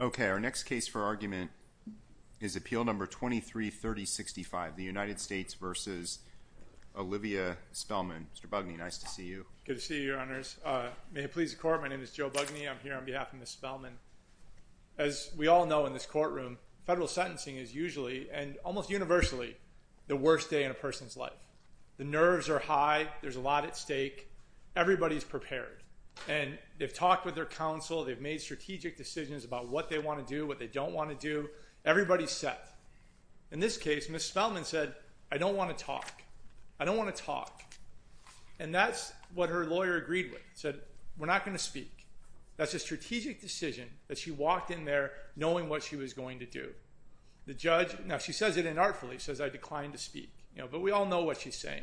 Okay, our next case for argument is appeal number 233065, the United States v. Olivia Spellman. Mr. Bugney, nice to see you. Good to see you, Your Honors. May it please the Court, my name is Joe Bugney. I'm here on behalf of Ms. Spellman. As we all know in this courtroom, federal sentencing is usually, and almost universally, the worst day in a person's life. The nerves are high, there's a lot at stake, everybody's prepared, and they've talked with their counsel, they've made strategic decisions about what they want to do, what they don't want to do, everybody's set. In this case, Ms. Spellman said, I don't want to talk. I don't want to talk. And that's what her lawyer agreed with, said, we're not going to speak. That's a strategic decision that she walked in there knowing what she was going to do. The judge, now she says it inartfully, says I declined to speak, you know, but we all know what she's saying.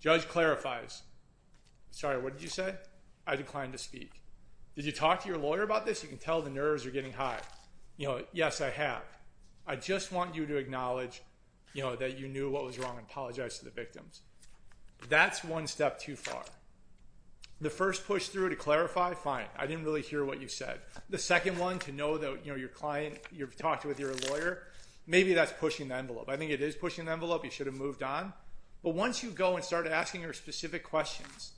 Judge clarifies. Sorry, what did you say? I have. I just want you to acknowledge, you know, that you knew what was wrong and apologize to the victims. That's one step too far. The first push through to clarify, fine, I didn't really hear what you said. The second one to know that, you know, your client, you've talked with your lawyer, maybe that's pushing the envelope. I think it is pushing the envelope, you should have moved on. But once you go and start asking her specific questions,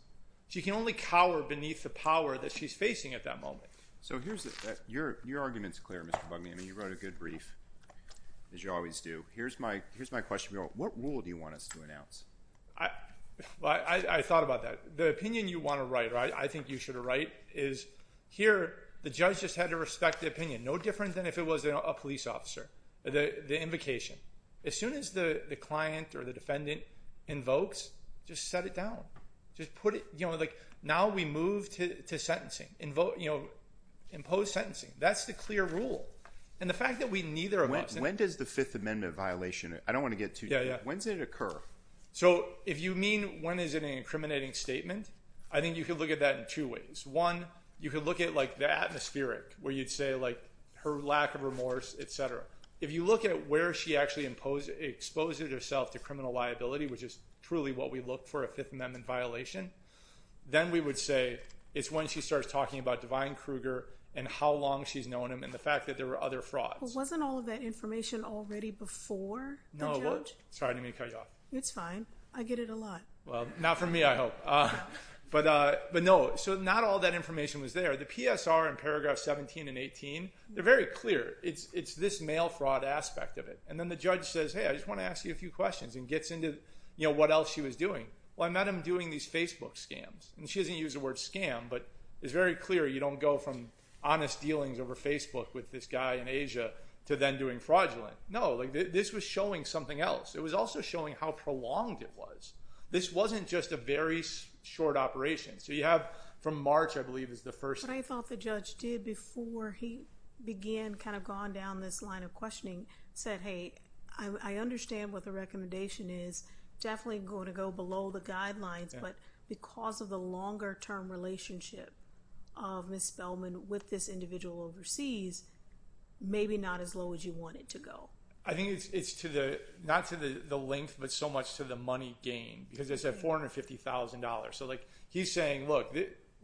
she can only cower beneath the power that she's facing at that moment. So here's your argument's clear. I mean, you wrote a good brief, as you always do. Here's my here's my question. What rule do you want us to announce? I thought about that. The opinion you want to write, I think you should write is here. The judge just had to respect the opinion. No different than if it was a police officer, the invocation. As soon as the client or the defendant invokes, just set it down, just put it now. We move to sentencing, impose sentencing. That's the clear rule. And the fact that we neither of us, when does the Fifth Amendment violation, I don't want to get too deep. When did it occur? So if you mean when is it an incriminating statement? I think you could look at that in two ways. One, you could look at like the atmospheric where you'd say like her lack of remorse, et cetera. If you look at where she actually exposed herself to criminal liability, which is truly what we look for a Fifth Amendment violation, then we would say it's when she starts talking about Divine Kruger and how long she's known him and the fact that there were other frauds. Wasn't all of that information already before? No. Sorry to cut you off. It's fine. I get it a lot. Well, not for me, I hope. But no, so not all that information was there. The PSR in paragraph 17 and 18, they're very clear. It's this mail fraud aspect of it. And then the judge says, hey, I just want to ask you a few questions and gets into what else she was doing. Well, I met him doing these Facebook scams. And she doesn't use the word scam, but it's very clear you don't go from honest dealings over Facebook with this guy in Asia to then doing fraudulent. No, this was showing something else. It was also showing how prolonged it was. This wasn't just a very short operation. So you have from March, I believe, is the first. But I thought the judge did before he began, gone down this line of questioning, said, hey, I understand what the recommendation is. Definitely going to go below the guidelines, but because of the longer term relationship of Ms. Spellman with this individual overseas, maybe not as low as you want it to go. I think it's not to the length, but so much to the money gain because it's at $450,000. So he's look,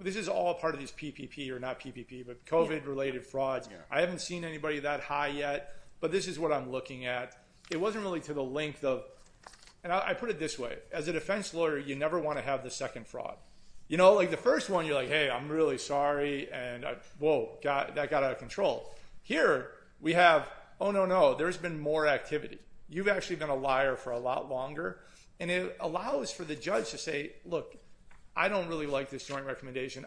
this is all part of these PPP or not PPP, but COVID related frauds. I haven't seen anybody that high yet, but this is what I'm looking at. It wasn't really to the length of, and I put it this way, as a defense lawyer, you never want to have the second fraud. Like the first one, you're like, hey, I'm really sorry. And whoa, that got out of control. Here we have, oh no, no, there's been more activity. You've actually been a liar for a lot longer. And it allows for the judge to say, look, I don't really like this joint recommendation.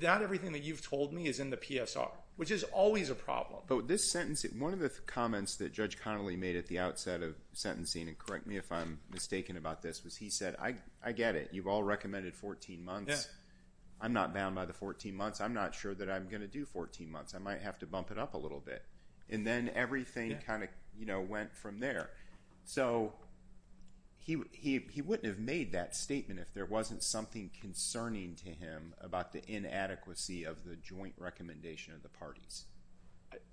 Not everything that you've told me is in the PSR, which is always a problem. But this sentence, one of the comments that Judge Connolly made at the outset of sentencing, and correct me if I'm mistaken about this, was he said, I get it. You've all recommended 14 months. I'm not bound by the 14 months. I'm not sure that I'm going to do 14 months. I might have to bump it up a little bit. And then everything kind of went from there. So he wouldn't have made that statement if there wasn't something concerning to him about the inadequacy of the joint recommendation of the parties.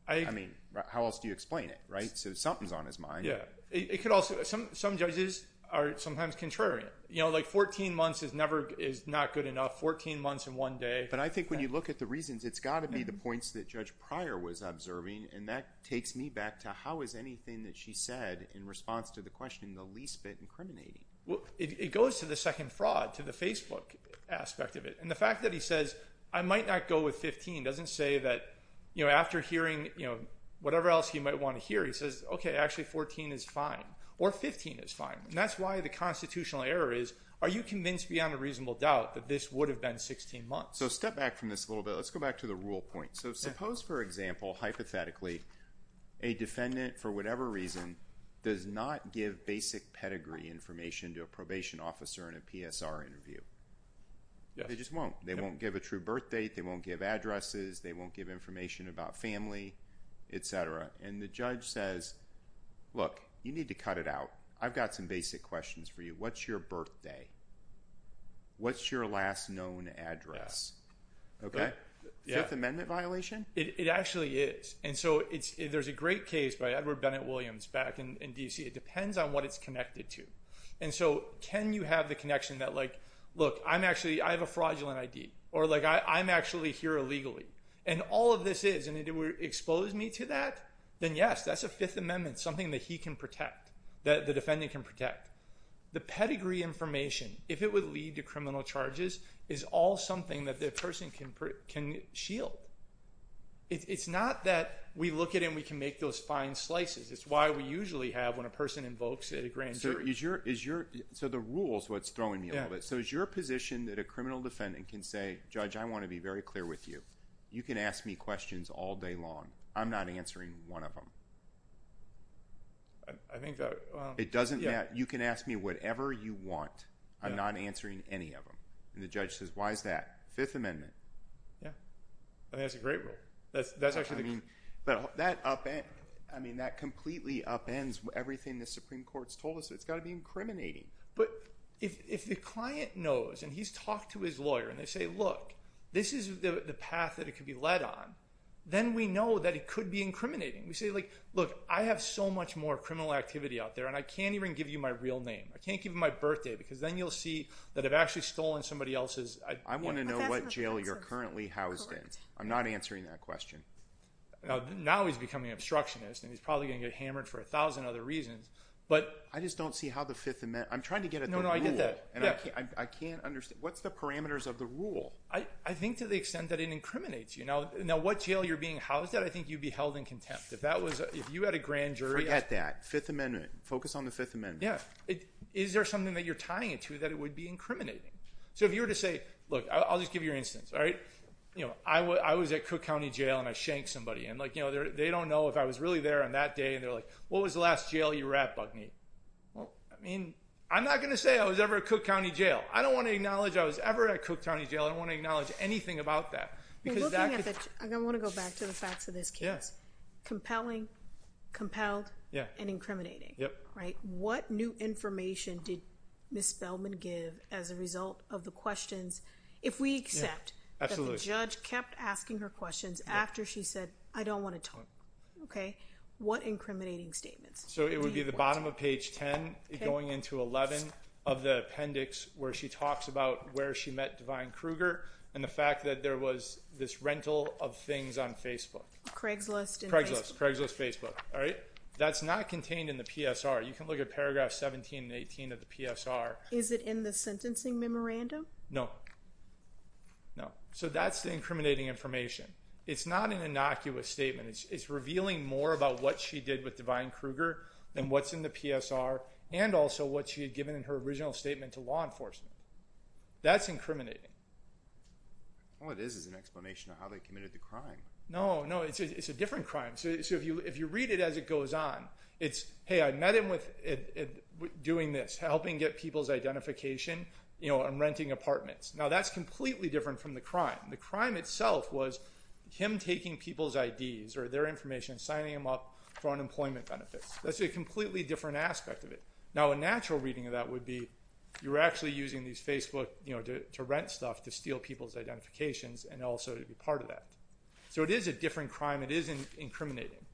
I mean, how else do you explain it, right? So something's on his mind. Some judges are sometimes contrarian. Like 14 months is not good enough. 14 months in one day. But I think when you look at the reasons, it's got to be the points that Judge Pryor was observing and that takes me back to how is anything that she said in response to the question the least bit incriminating? Well, it goes to the second fraud, to the Facebook aspect of it. And the fact that he says, I might not go with 15, doesn't say that after hearing whatever else you might want to hear, he says, okay, actually 14 is fine or 15 is fine. And that's why the constitutional error is, are you convinced beyond a reasonable doubt that this would have been 16 months? So step back from this a little bit. Let's go back to the rule point. So suppose, for example, hypothetically, a defendant, for whatever reason, does not give basic pedigree information to a probation officer in a PSR interview. They just won't. They won't give a true birth date. They won't give addresses. They won't give information about family, etc. And the judge says, look, you need to cut it out. I've got some basic questions for you. What's your birthday? What's your last known address? Okay. Fifth Amendment violation? It actually is. And so there's a great case by Edward Bennett Williams back in DC. It depends on what it's connected to. And so can you have the connection that like, look, I'm actually, I have a fraudulent ID, or like, I'm actually here illegally. And all of this is, and it would expose me to that, then yes, that's a Fifth Amendment, something that he can protect, that the defendant can protect. The pedigree information, if it would lead to criminal charges, is all something that the person can shield. It's not that we look at it and we can make those fine slices. It's why we usually have, when a person invokes it, a grand jury. So is your, so the rule is what's throwing me off. So is your position that a criminal defendant can say, judge, I want to be very clear with you. You can ask me questions all day long. I'm not answering one of them. I think that. It doesn't matter. You can ask me whatever you want. I'm not answering any of them. And the judge says, why is that? Fifth Amendment. Yeah. I think that's a great rule. That's actually the. I mean, but that upends, I mean, that completely upends everything the Supreme Court's told us. It's got to be incriminating. But if the client knows, and he's talked to his lawyer, and they say, look, this is the path that it could be led on, then we know that it could be incriminating. We say like, look, I have so much more criminal activity out there and I can't even give you my real name. I can't give him my birthday because then you'll see that I've actually stolen somebody else's. I want to know what jail you're currently housed in. I'm not answering that question. Now he's becoming obstructionist and he's probably going to get hammered for a thousand other reasons, but. I just don't see how the Fifth Amendment, I'm trying to get at the rule. I can't understand. What's the parameters of the rule? I think to the jail you're being housed at, I think you'd be held in contempt. If that was, if you had a grand jury. Forget that. Fifth Amendment. Focus on the Fifth Amendment. Yeah. Is there something that you're tying it to that it would be incriminating? So if you were to say, look, I'll just give you your instance. All right. You know, I was at Cook County Jail and I shanked somebody. And like, you know, they don't know if I was really there on that day. And they're like, what was the last jail you were at, Buckneat? Well, I mean, I'm not going to say I was ever at Cook County Jail. I don't want to acknowledge I was ever at Cook County Jail. I don't want to acknowledge anything about that. I want to go back to the facts of this case. Compelling, compelled, and incriminating. Yep. Right. What new information did Ms. Spellman give as a result of the questions? If we accept that the judge kept asking her questions after she said, I don't want to talk. Okay. What incriminating statements? So it would be the bottom of page 10 going into 11 of the appendix where she talks about where she met Divine Kruger and the fact that there was this rental of things on Facebook. Craigslist. Craigslist. Craigslist Facebook. All right. That's not contained in the PSR. You can look at paragraphs 17 and 18 of the PSR. Is it in the sentencing memorandum? No. No. So that's the incriminating information. It's not an innocuous statement. It's revealing more about what she did with Divine Kruger than what's in the PSR and also what she had given in her original statement to law enforcement. That's incriminating. All it is is an explanation of how they committed the crime. No. No. It's a different crime. So if you read it as it goes on, it's, hey, I met him with doing this, helping get people's identification, you know, and renting apartments. Now that's completely different from the crime. The crime itself was him taking people's IDs or their information and signing them up for unemployment benefits. That's a completely different aspect of it. Now a natural reading of that would be you're actually using these Facebook, you know, to rent stuff to steal people's identifications and also to be part of that. So it is a different crime. It is incriminating.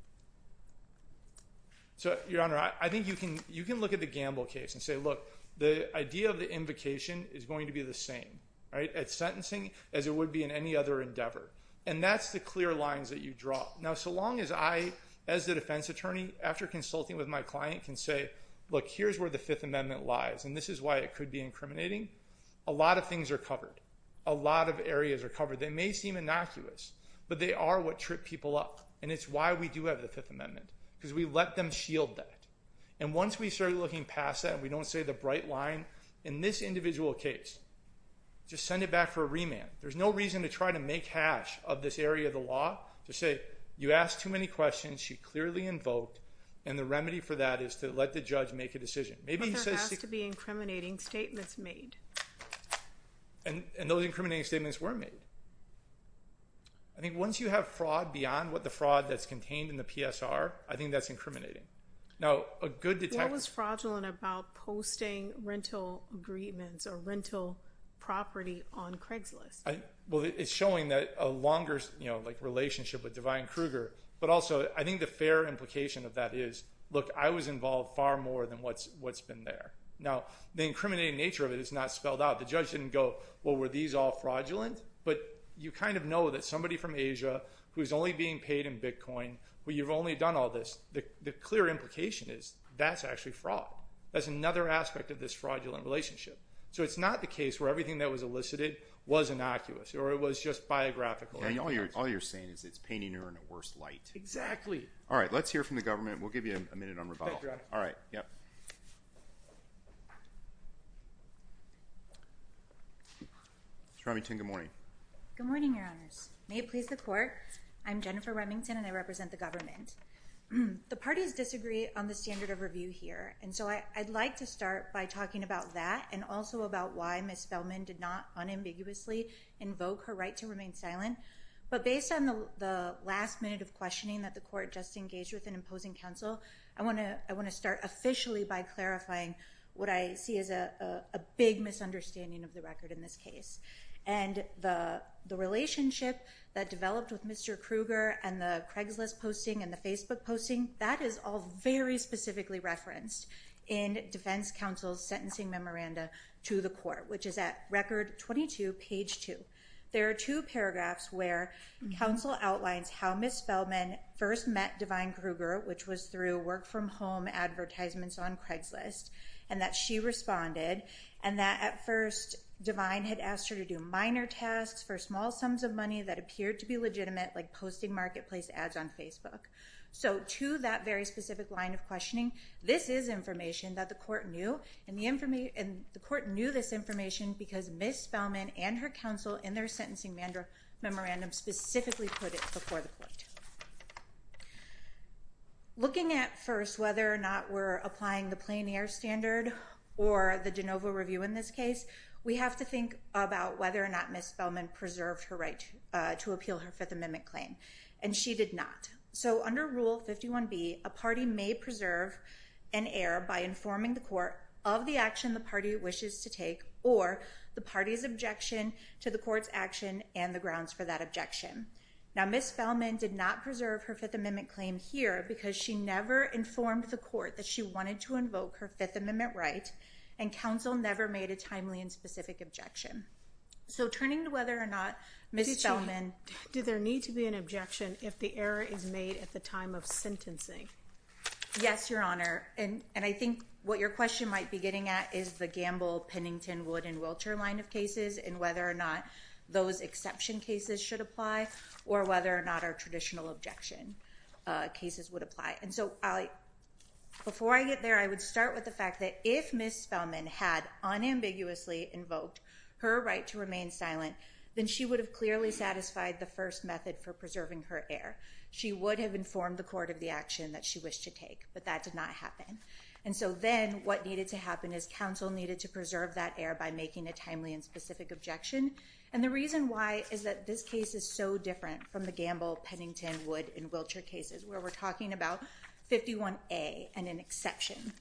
So, Your Honor, I think you can look at the Gamble case and say, look, the idea of the invocation is going to be the same, right, at sentencing as it would be in any other endeavor. And that's the clear lines that you draw. Now, so long as I, as the defense attorney, after consulting with my client can say, look, here's where the Fifth Amendment lies, and this is why it could be incriminating. A lot of things are covered. A lot of areas are covered. They may seem innocuous, but they are what trip people up. And it's why we do have the Fifth Amendment, because we let them shield that. And once we started looking past that, we don't say the bright line. In this individual case, just send it back for a remand. There's no reason to try to make hash of this area of the law to say you asked too many questions, she clearly invoked, and the remedy for that is to let the judge make a decision. But there has to be incriminating statements made. And those incriminating statements were made. I think once you have fraud beyond what the fraud that's contained in the PSR, I think that's incriminating. Now, a good detective— What was fraudulent about posting rental agreements or rental property on Craigslist? Well, it's showing that a longer relationship with Divine Kruger, but also I think the fair implication of that is, look, I was involved far more than what's been there. Now, the incriminating nature of it is not spelled out. The judge didn't go, well, were these all fraudulent? But you kind of know that somebody from Asia who's only being paid in Bitcoin, where you've only done all this, the clear implication is that's actually fraud. That's another aspect of this fraudulent relationship. So it's not the case where everything that was elicited was innocuous or it was just biographical. All you're saying is it's painting her in a worse light. Exactly. All right. Let's hear from the government. We'll give you a minute on rebuttal. All right. Yep. Ms. Remington, good morning. Good morning, Your Honors. May it please the court. I'm Jennifer Remington, and I represent the government. The parties disagree on the standard review here. And so I'd like to start by talking about that and also about why Ms. Feldman did not unambiguously invoke her right to remain silent. But based on the last minute of questioning that the court just engaged with in imposing counsel, I want to start officially by clarifying what I see as a big misunderstanding of the record in this case. And the relationship that developed with Mr. Kruger and the Craigslist posting and the Facebook posting, that is all very specifically referenced in defense counsel's sentencing memoranda to the court, which is at record 22, page 2. There are two paragraphs where counsel outlines how Ms. Feldman first met Divine Kruger, which was through work-from-home advertisements on Craigslist, and that she responded and that at first Divine had asked her to do minor tasks for small sums of money that appeared to be legitimate, like posting marketplace ads on Facebook. So to that very specific line of questioning, this is information that the court knew, and the court knew this information because Ms. Feldman and her counsel in their sentencing memorandum specifically put it before the court. Looking at first whether or not we're applying the plein air standard or the de novo review in this case, we have to think about whether or not Ms. Feldman preserved her right to appeal her Fifth Amendment claim here because she never informed the court that she wanted to invoke her Fifth Amendment right, and counsel never made a timely and specific objection. So turning to whether or not Ms. Feldman... Did there need to be an objection if the error is made at the time of sentencing? Yes, Your Honor, and I think what your question might be getting at is the Gamble, Pennington, Wood, and Wiltshire line of cases and whether or not those exception cases should apply, or whether or not our traditional objection cases would apply. And so before I get there, I would start with the fact that if Ms. Feldman had unambiguously invoked her right to remain silent, then she would have clearly satisfied the first method for preserving her error. She would have informed the court of the action that she wished to take, but that did not happen. And so then what needed to happen is counsel needed to preserve that error by making a timely and specific objection. And the reason why is that this case is so different from the Gamble, Pennington, Wood, and Wiltshire cases where we're talking about 51A and an exception.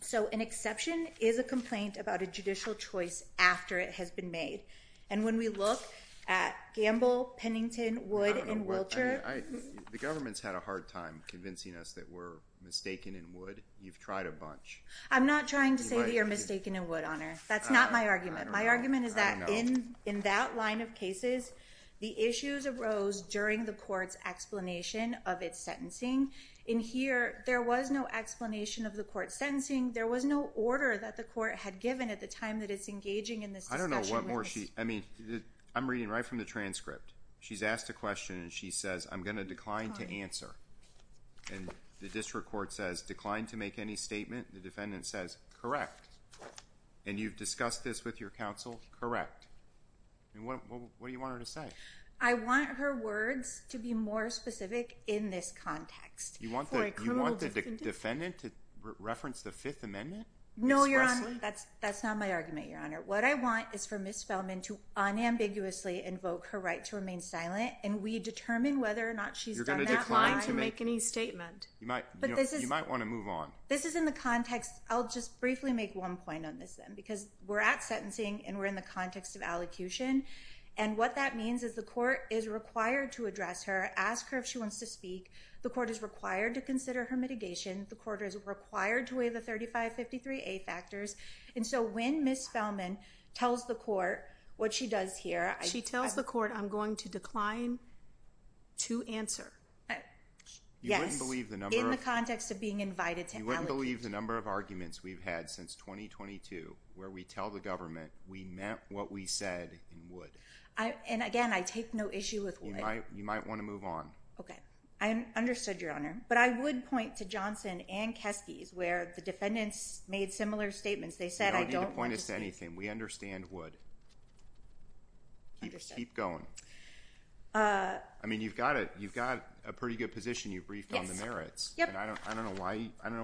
So an exception is a complaint about a judicial choice after it has been made. And when we look at Gamble, Pennington, Wood, and Wiltshire... I don't know. The government's had a hard time convincing us that we're mistaken in Wood. You've tried a bunch. I'm not trying to say that you're mistaken in Wood, Honor. That's not my argument. My argument is that in that line of cases, the issues arose during the court's explanation of its sentencing. In here, there was no explanation of the court's sentencing. There was no order that the court had given at the time that it's engaging in this discussion. I mean, I'm reading right from the transcript. She's asked a question and she says, I'm going to decline to answer. And the district court says, decline to make any statement. The defendant says, correct. And you've discussed this with your counsel? Correct. And what do you want her to say? I want her words to be more specific in this context. You want the defendant to reference the Fifth Amendment? No, Your Honor. That's not my argument, Your Honor. What I want is for Ms. Feldman to unambiguously invoke her right to remain silent, and we determine whether or not she's done that. You're going to decline to make any statement? You might want to move on. This is in the context... I'll just briefly make one point on this then, because we're at sentencing and we're in the context of allocution. And what that means is the court is required to address her, ask her if she wants to speak. The court is required to consider her mitigation. The court is required to weigh the 3553A factors. And so when Ms. Feldman tells the court what she does here... She tells the court, I'm going to decline to answer. Yes. In the context of being invited to allocate. You wouldn't believe the number of arguments we've had since 2022 where we tell the government we meant what we said and would. And again, I take no issue with would. You might want to move on. Okay. I understood, Your Honor. But I would point to Johnson and Kesky's where the defendants made similar statements. They said, I don't want to... You don't need to point us to anything. We understand would. Understood. Keep going. I mean, you've got a pretty good position. You've briefed on the merits. Yep. And I don't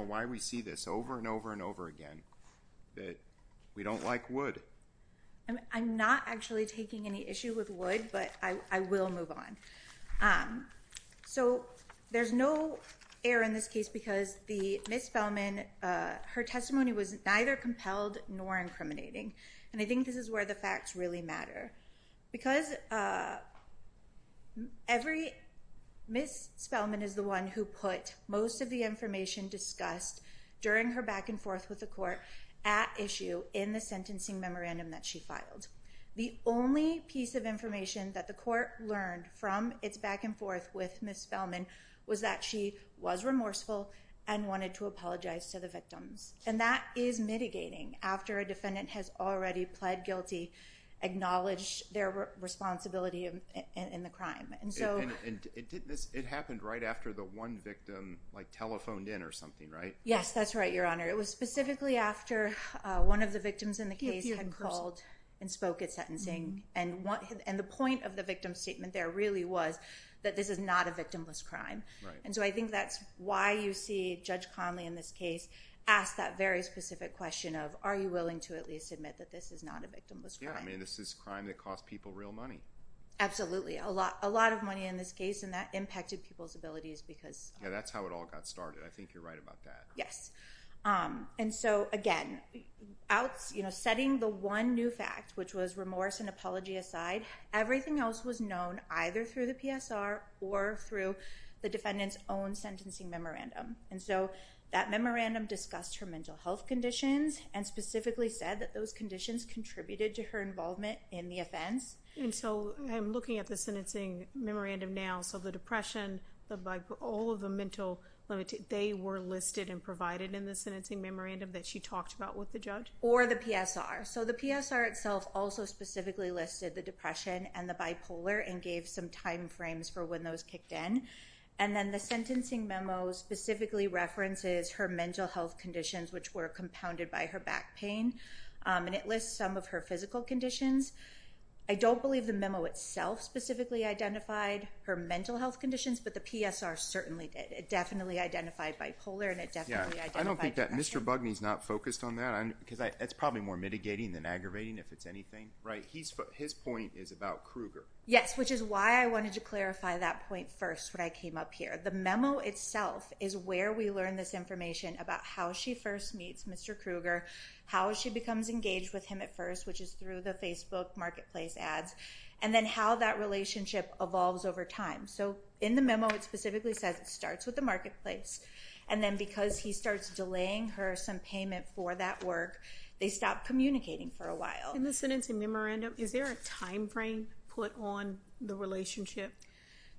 know why we see this over and over and over again, that we don't like would. And I'm not actually taking any issue with would, but I will move on. So there's no error in this case because Ms. Feldman, her testimony was neither compelled nor incriminating. And I think this is where the facts really matter. Because every... Ms. Feldman is the one who put most of the information discussed during her back and forth with the court at issue in the sentencing memorandum that she filed. The only piece of information that the court learned from its back and forth with Ms. Feldman was that she was remorseful and wanted to apologize to the victims. And that is mitigating after a defendant has already pled guilty, acknowledged their responsibility in the crime. And so... And it happened right after the one victim telephoned in or something, right? Yes, that's right, Your Honor. It was specifically after one of the victims in the case had called and spoke at sentencing. And the point of the victim statement there really was that this is not a victimless crime. And so I think that's why you see Judge Conley in this case ask that very specific question of, are you willing to at least admit that this is not a victimless crime? I mean, this is a crime that cost people real money. Absolutely. A lot of money in this case and that impacted people's abilities because... That's how it all got started. I think you're right about that. Yes. And so again, setting the one new fact, which was remorse and apology aside, everything else was known either through the PSR or through the defendant's own sentencing memorandum. And so that memorandum discussed her mental health conditions and specifically said that those conditions contributed to her involvement in the offense. And so I'm looking at the sentencing memorandum now. So the depression, all of the mental... They were listed and provided in the sentencing memorandum that she talked about with the judge? Or the PSR. So the PSR itself also specifically listed the depression and the bipolar and gave some timeframes for when those kicked in. And then the sentencing memo specifically references her mental health conditions, which were compounded by her back pain. And it lists some of her physical conditions. I don't believe the memo itself specifically identified her mental health conditions, but the PSR certainly did. It definitely identified bipolar and it definitely identified depression. Yeah. I don't think that Mr. Bugney's not focused on that because that's probably more mitigating than aggravating if it's anything. His point is about Krueger. Yes. Which is why I wanted to clarify that point first when I came up here. The memo itself is where we learn this information about how she first meets Mr. Krueger, how she becomes engaged with him at first, which is through the Facebook marketplace ads, and then how that relationship evolves over time. So in the memo, it specifically says it starts with the marketplace. And then because he starts delaying her some payment for that work, they stop communicating for a while. In the sentencing memorandum, is there a timeframe put on the relationship?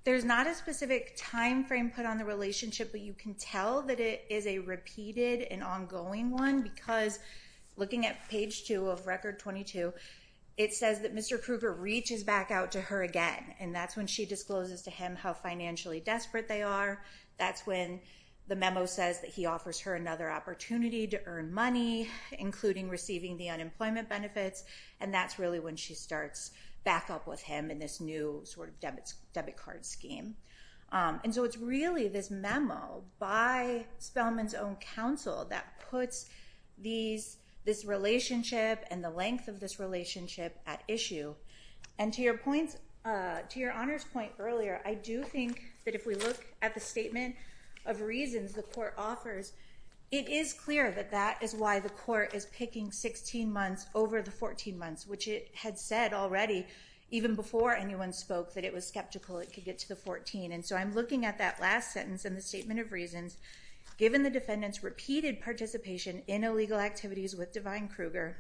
There's not a specific timeframe put on the relationship, but you can tell that it is a repeated and ongoing one because looking at page two of record 22, it says that Mr. Krueger reaches back out to her again. And that's when she discloses to him how financially desperate they are. That's when the memo says that he offers her another opportunity to earn money, including receiving the unemployment benefits. And that's really when she starts back up with him in this new debit card scheme. And so it's really this memo by Spellman's own counsel that puts this relationship and the length of this relationship at issue. And to your point, to your honor's point earlier, I do think that if we look at the statement of reasons the court offers, it is clear that that is why the court is picking 16 months over the 14 months, which it had said already even before anyone spoke that it was skeptical it could get to the 14. And so I'm at that last sentence in the statement of reasons, given the defendant's repeated participation in illegal activities with Devine Krueger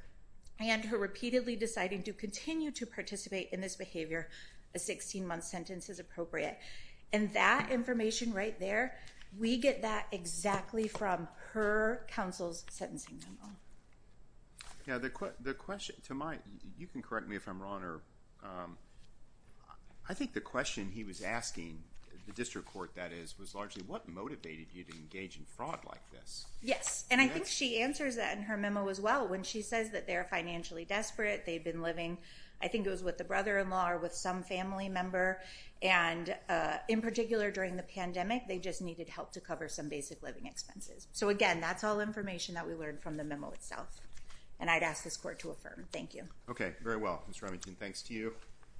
and her repeatedly deciding to continue to participate in this behavior, a 16 month sentence is appropriate. And that information right there, we get that exactly from her counsel's sentencing memo. Yeah, the question to my, you can correct me if I'm wrong, or I think the question he was asking the district court that is, was largely what motivated you to engage in fraud like this? Yes, and I think she answers that in her memo as well. When she says that they're financially desperate, they've been living, I think it was with the brother-in-law or with some family member. And in particular during the pandemic, they just needed help to cover some basic living expenses. So again, that's all information that we learned from the memo itself. And I'd ask this court to affirm. Thank you. Okay, very well, Mr. Remington, thanks to you.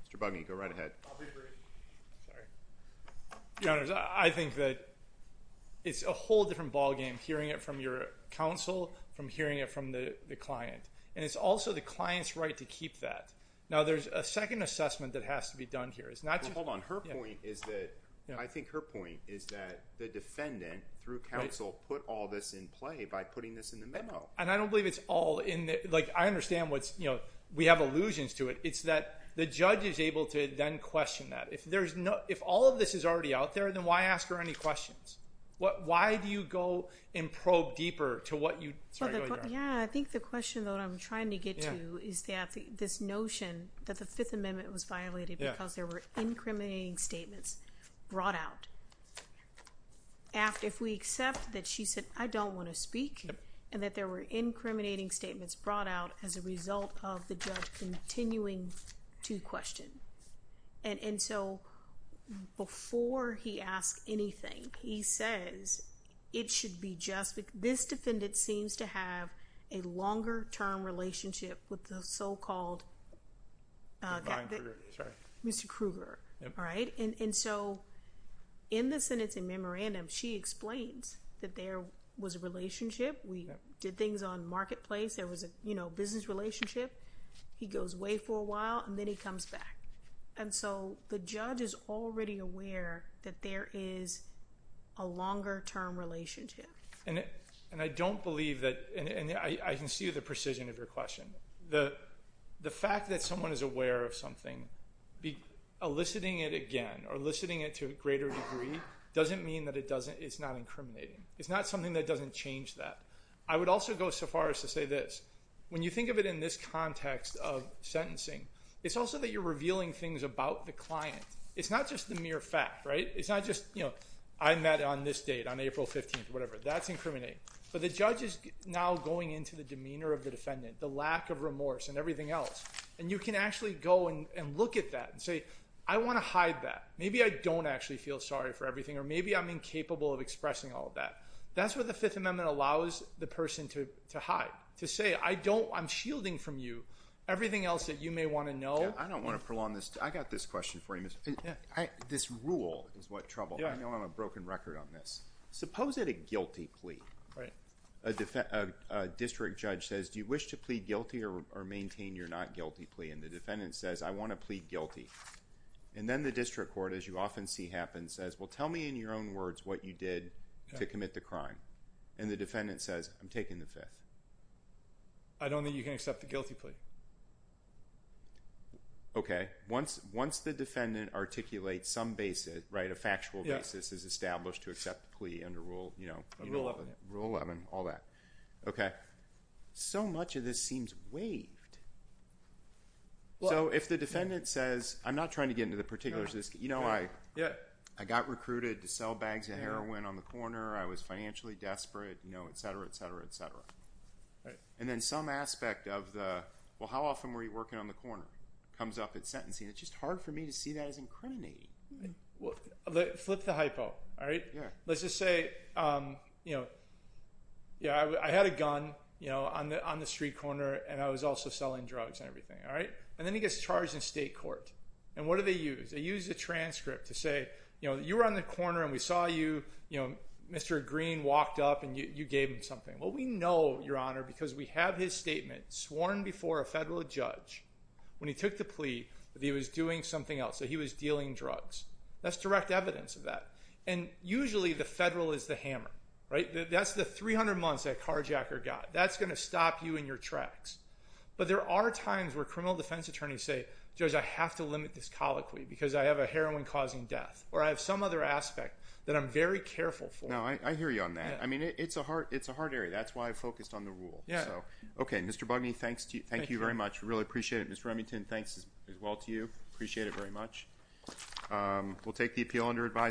Mr. Buggy, go right ahead. Sorry. Your honors, I think that it's a whole different ballgame hearing it from your counsel from hearing it from the client. And it's also the client's right to keep that. Now, there's a second assessment that has to be done here. It's not just- Hold on. Her point is that, I think her point is that the defendant through counsel put all this in play by putting this in the memo. And I don't believe it's all in the, I understand we have allusions to it. It's that the judge is able to then question that. If all of this is already out there, then why ask her any questions? Why do you go and probe deeper to what you- Yeah, I think the question that I'm trying to get to is that this notion that the Fifth Amendment was violated because there were incriminating statements brought out. If we accept that she said, I don't want to speak and that there were incriminating statements brought out as a result of the judge continuing to question. And so, before he asks anything, he says it should be just, this defendant seems to have a longer term relationship with the so-called Mr. Krueger, right? And so, in the sentencing memorandum, she explains that there was a marketplace, there was a business relationship. He goes away for a while and then he comes back. And so, the judge is already aware that there is a longer term relationship. And I don't believe that, and I can see the precision of your question. The fact that someone is aware of something, eliciting it again or eliciting it to a greater degree doesn't mean that it doesn't, it's not incriminating. It's not something that doesn't change that. I would also go so far as to say this, when you think of it in this context of sentencing, it's also that you're revealing things about the client. It's not just the mere fact, right? It's not just, you know, I met on this date, on April 15th, whatever. That's incriminating. But the judge is now going into the demeanor of the defendant, the lack of remorse and everything else. And you can actually go and look at that and say, I want to hide that. Maybe I don't actually feel sorry for everything or maybe I'm incapable of expressing all of that. That's what the Fifth Amendment allows the person to hide, to say, I don't, I'm shielding from you everything else that you may want to know. I don't want to prolong this. I got this question for you. This rule is what trouble, I know I'm a broken record on this. Suppose at a guilty plea, a district judge says, do you wish to plead guilty or maintain your not guilty plea? And the defendant says, I want to plead guilty. And then the district court, as you often see happen, says, well, tell me in your own words what you did to commit the crime. And the defendant says, I'm taking the Fifth. I don't think you can accept the guilty plea. Okay. Once the defendant articulates some basis, right, a factual basis is established to accept the plea under Rule 11, all that. Okay. So much of this seems waived. So if the defendant says, I'm not trying to get into the particulars of this case. You know, I got recruited to sell bags of heroin on the corner. I was financially desperate, you know, et cetera, et cetera, et cetera. And then some aspect of the, well, how often were you working on the corner comes up at sentencing. It's just hard for me to see that as incriminating. Flip the hypo. All right. Let's just say, you know, yeah, I had a gun, you know, on the, on the street corner and I was also selling drugs and everything. All right. And then he gets charged in state court. And what do they use? They use a transcript to say, you know, you were on the corner and we saw you, you know, Mr. Green walked up and you gave him something. Well, we know your honor, because we have his statement sworn before a federal judge when he took the plea that he was doing something else. So he was dealing drugs. That's direct evidence of that. And usually the federal is the hammer, right? That's the 300 months that carjacker got. That's going to stop you in your tracks. But there are times where criminal defense attorneys say, judge, I have to limit this colloquy because I have a heroin causing death or I have some other aspect that I'm very careful for. I hear you on that. I mean, it's a hard, it's a hard area. That's why I focused on the rule. So, okay. Mr. Bugney, thanks to you. Thank you very much. Really appreciate it. Mr. Remington, thanks as well to you. Appreciate it very much. We'll take the appeal under advice.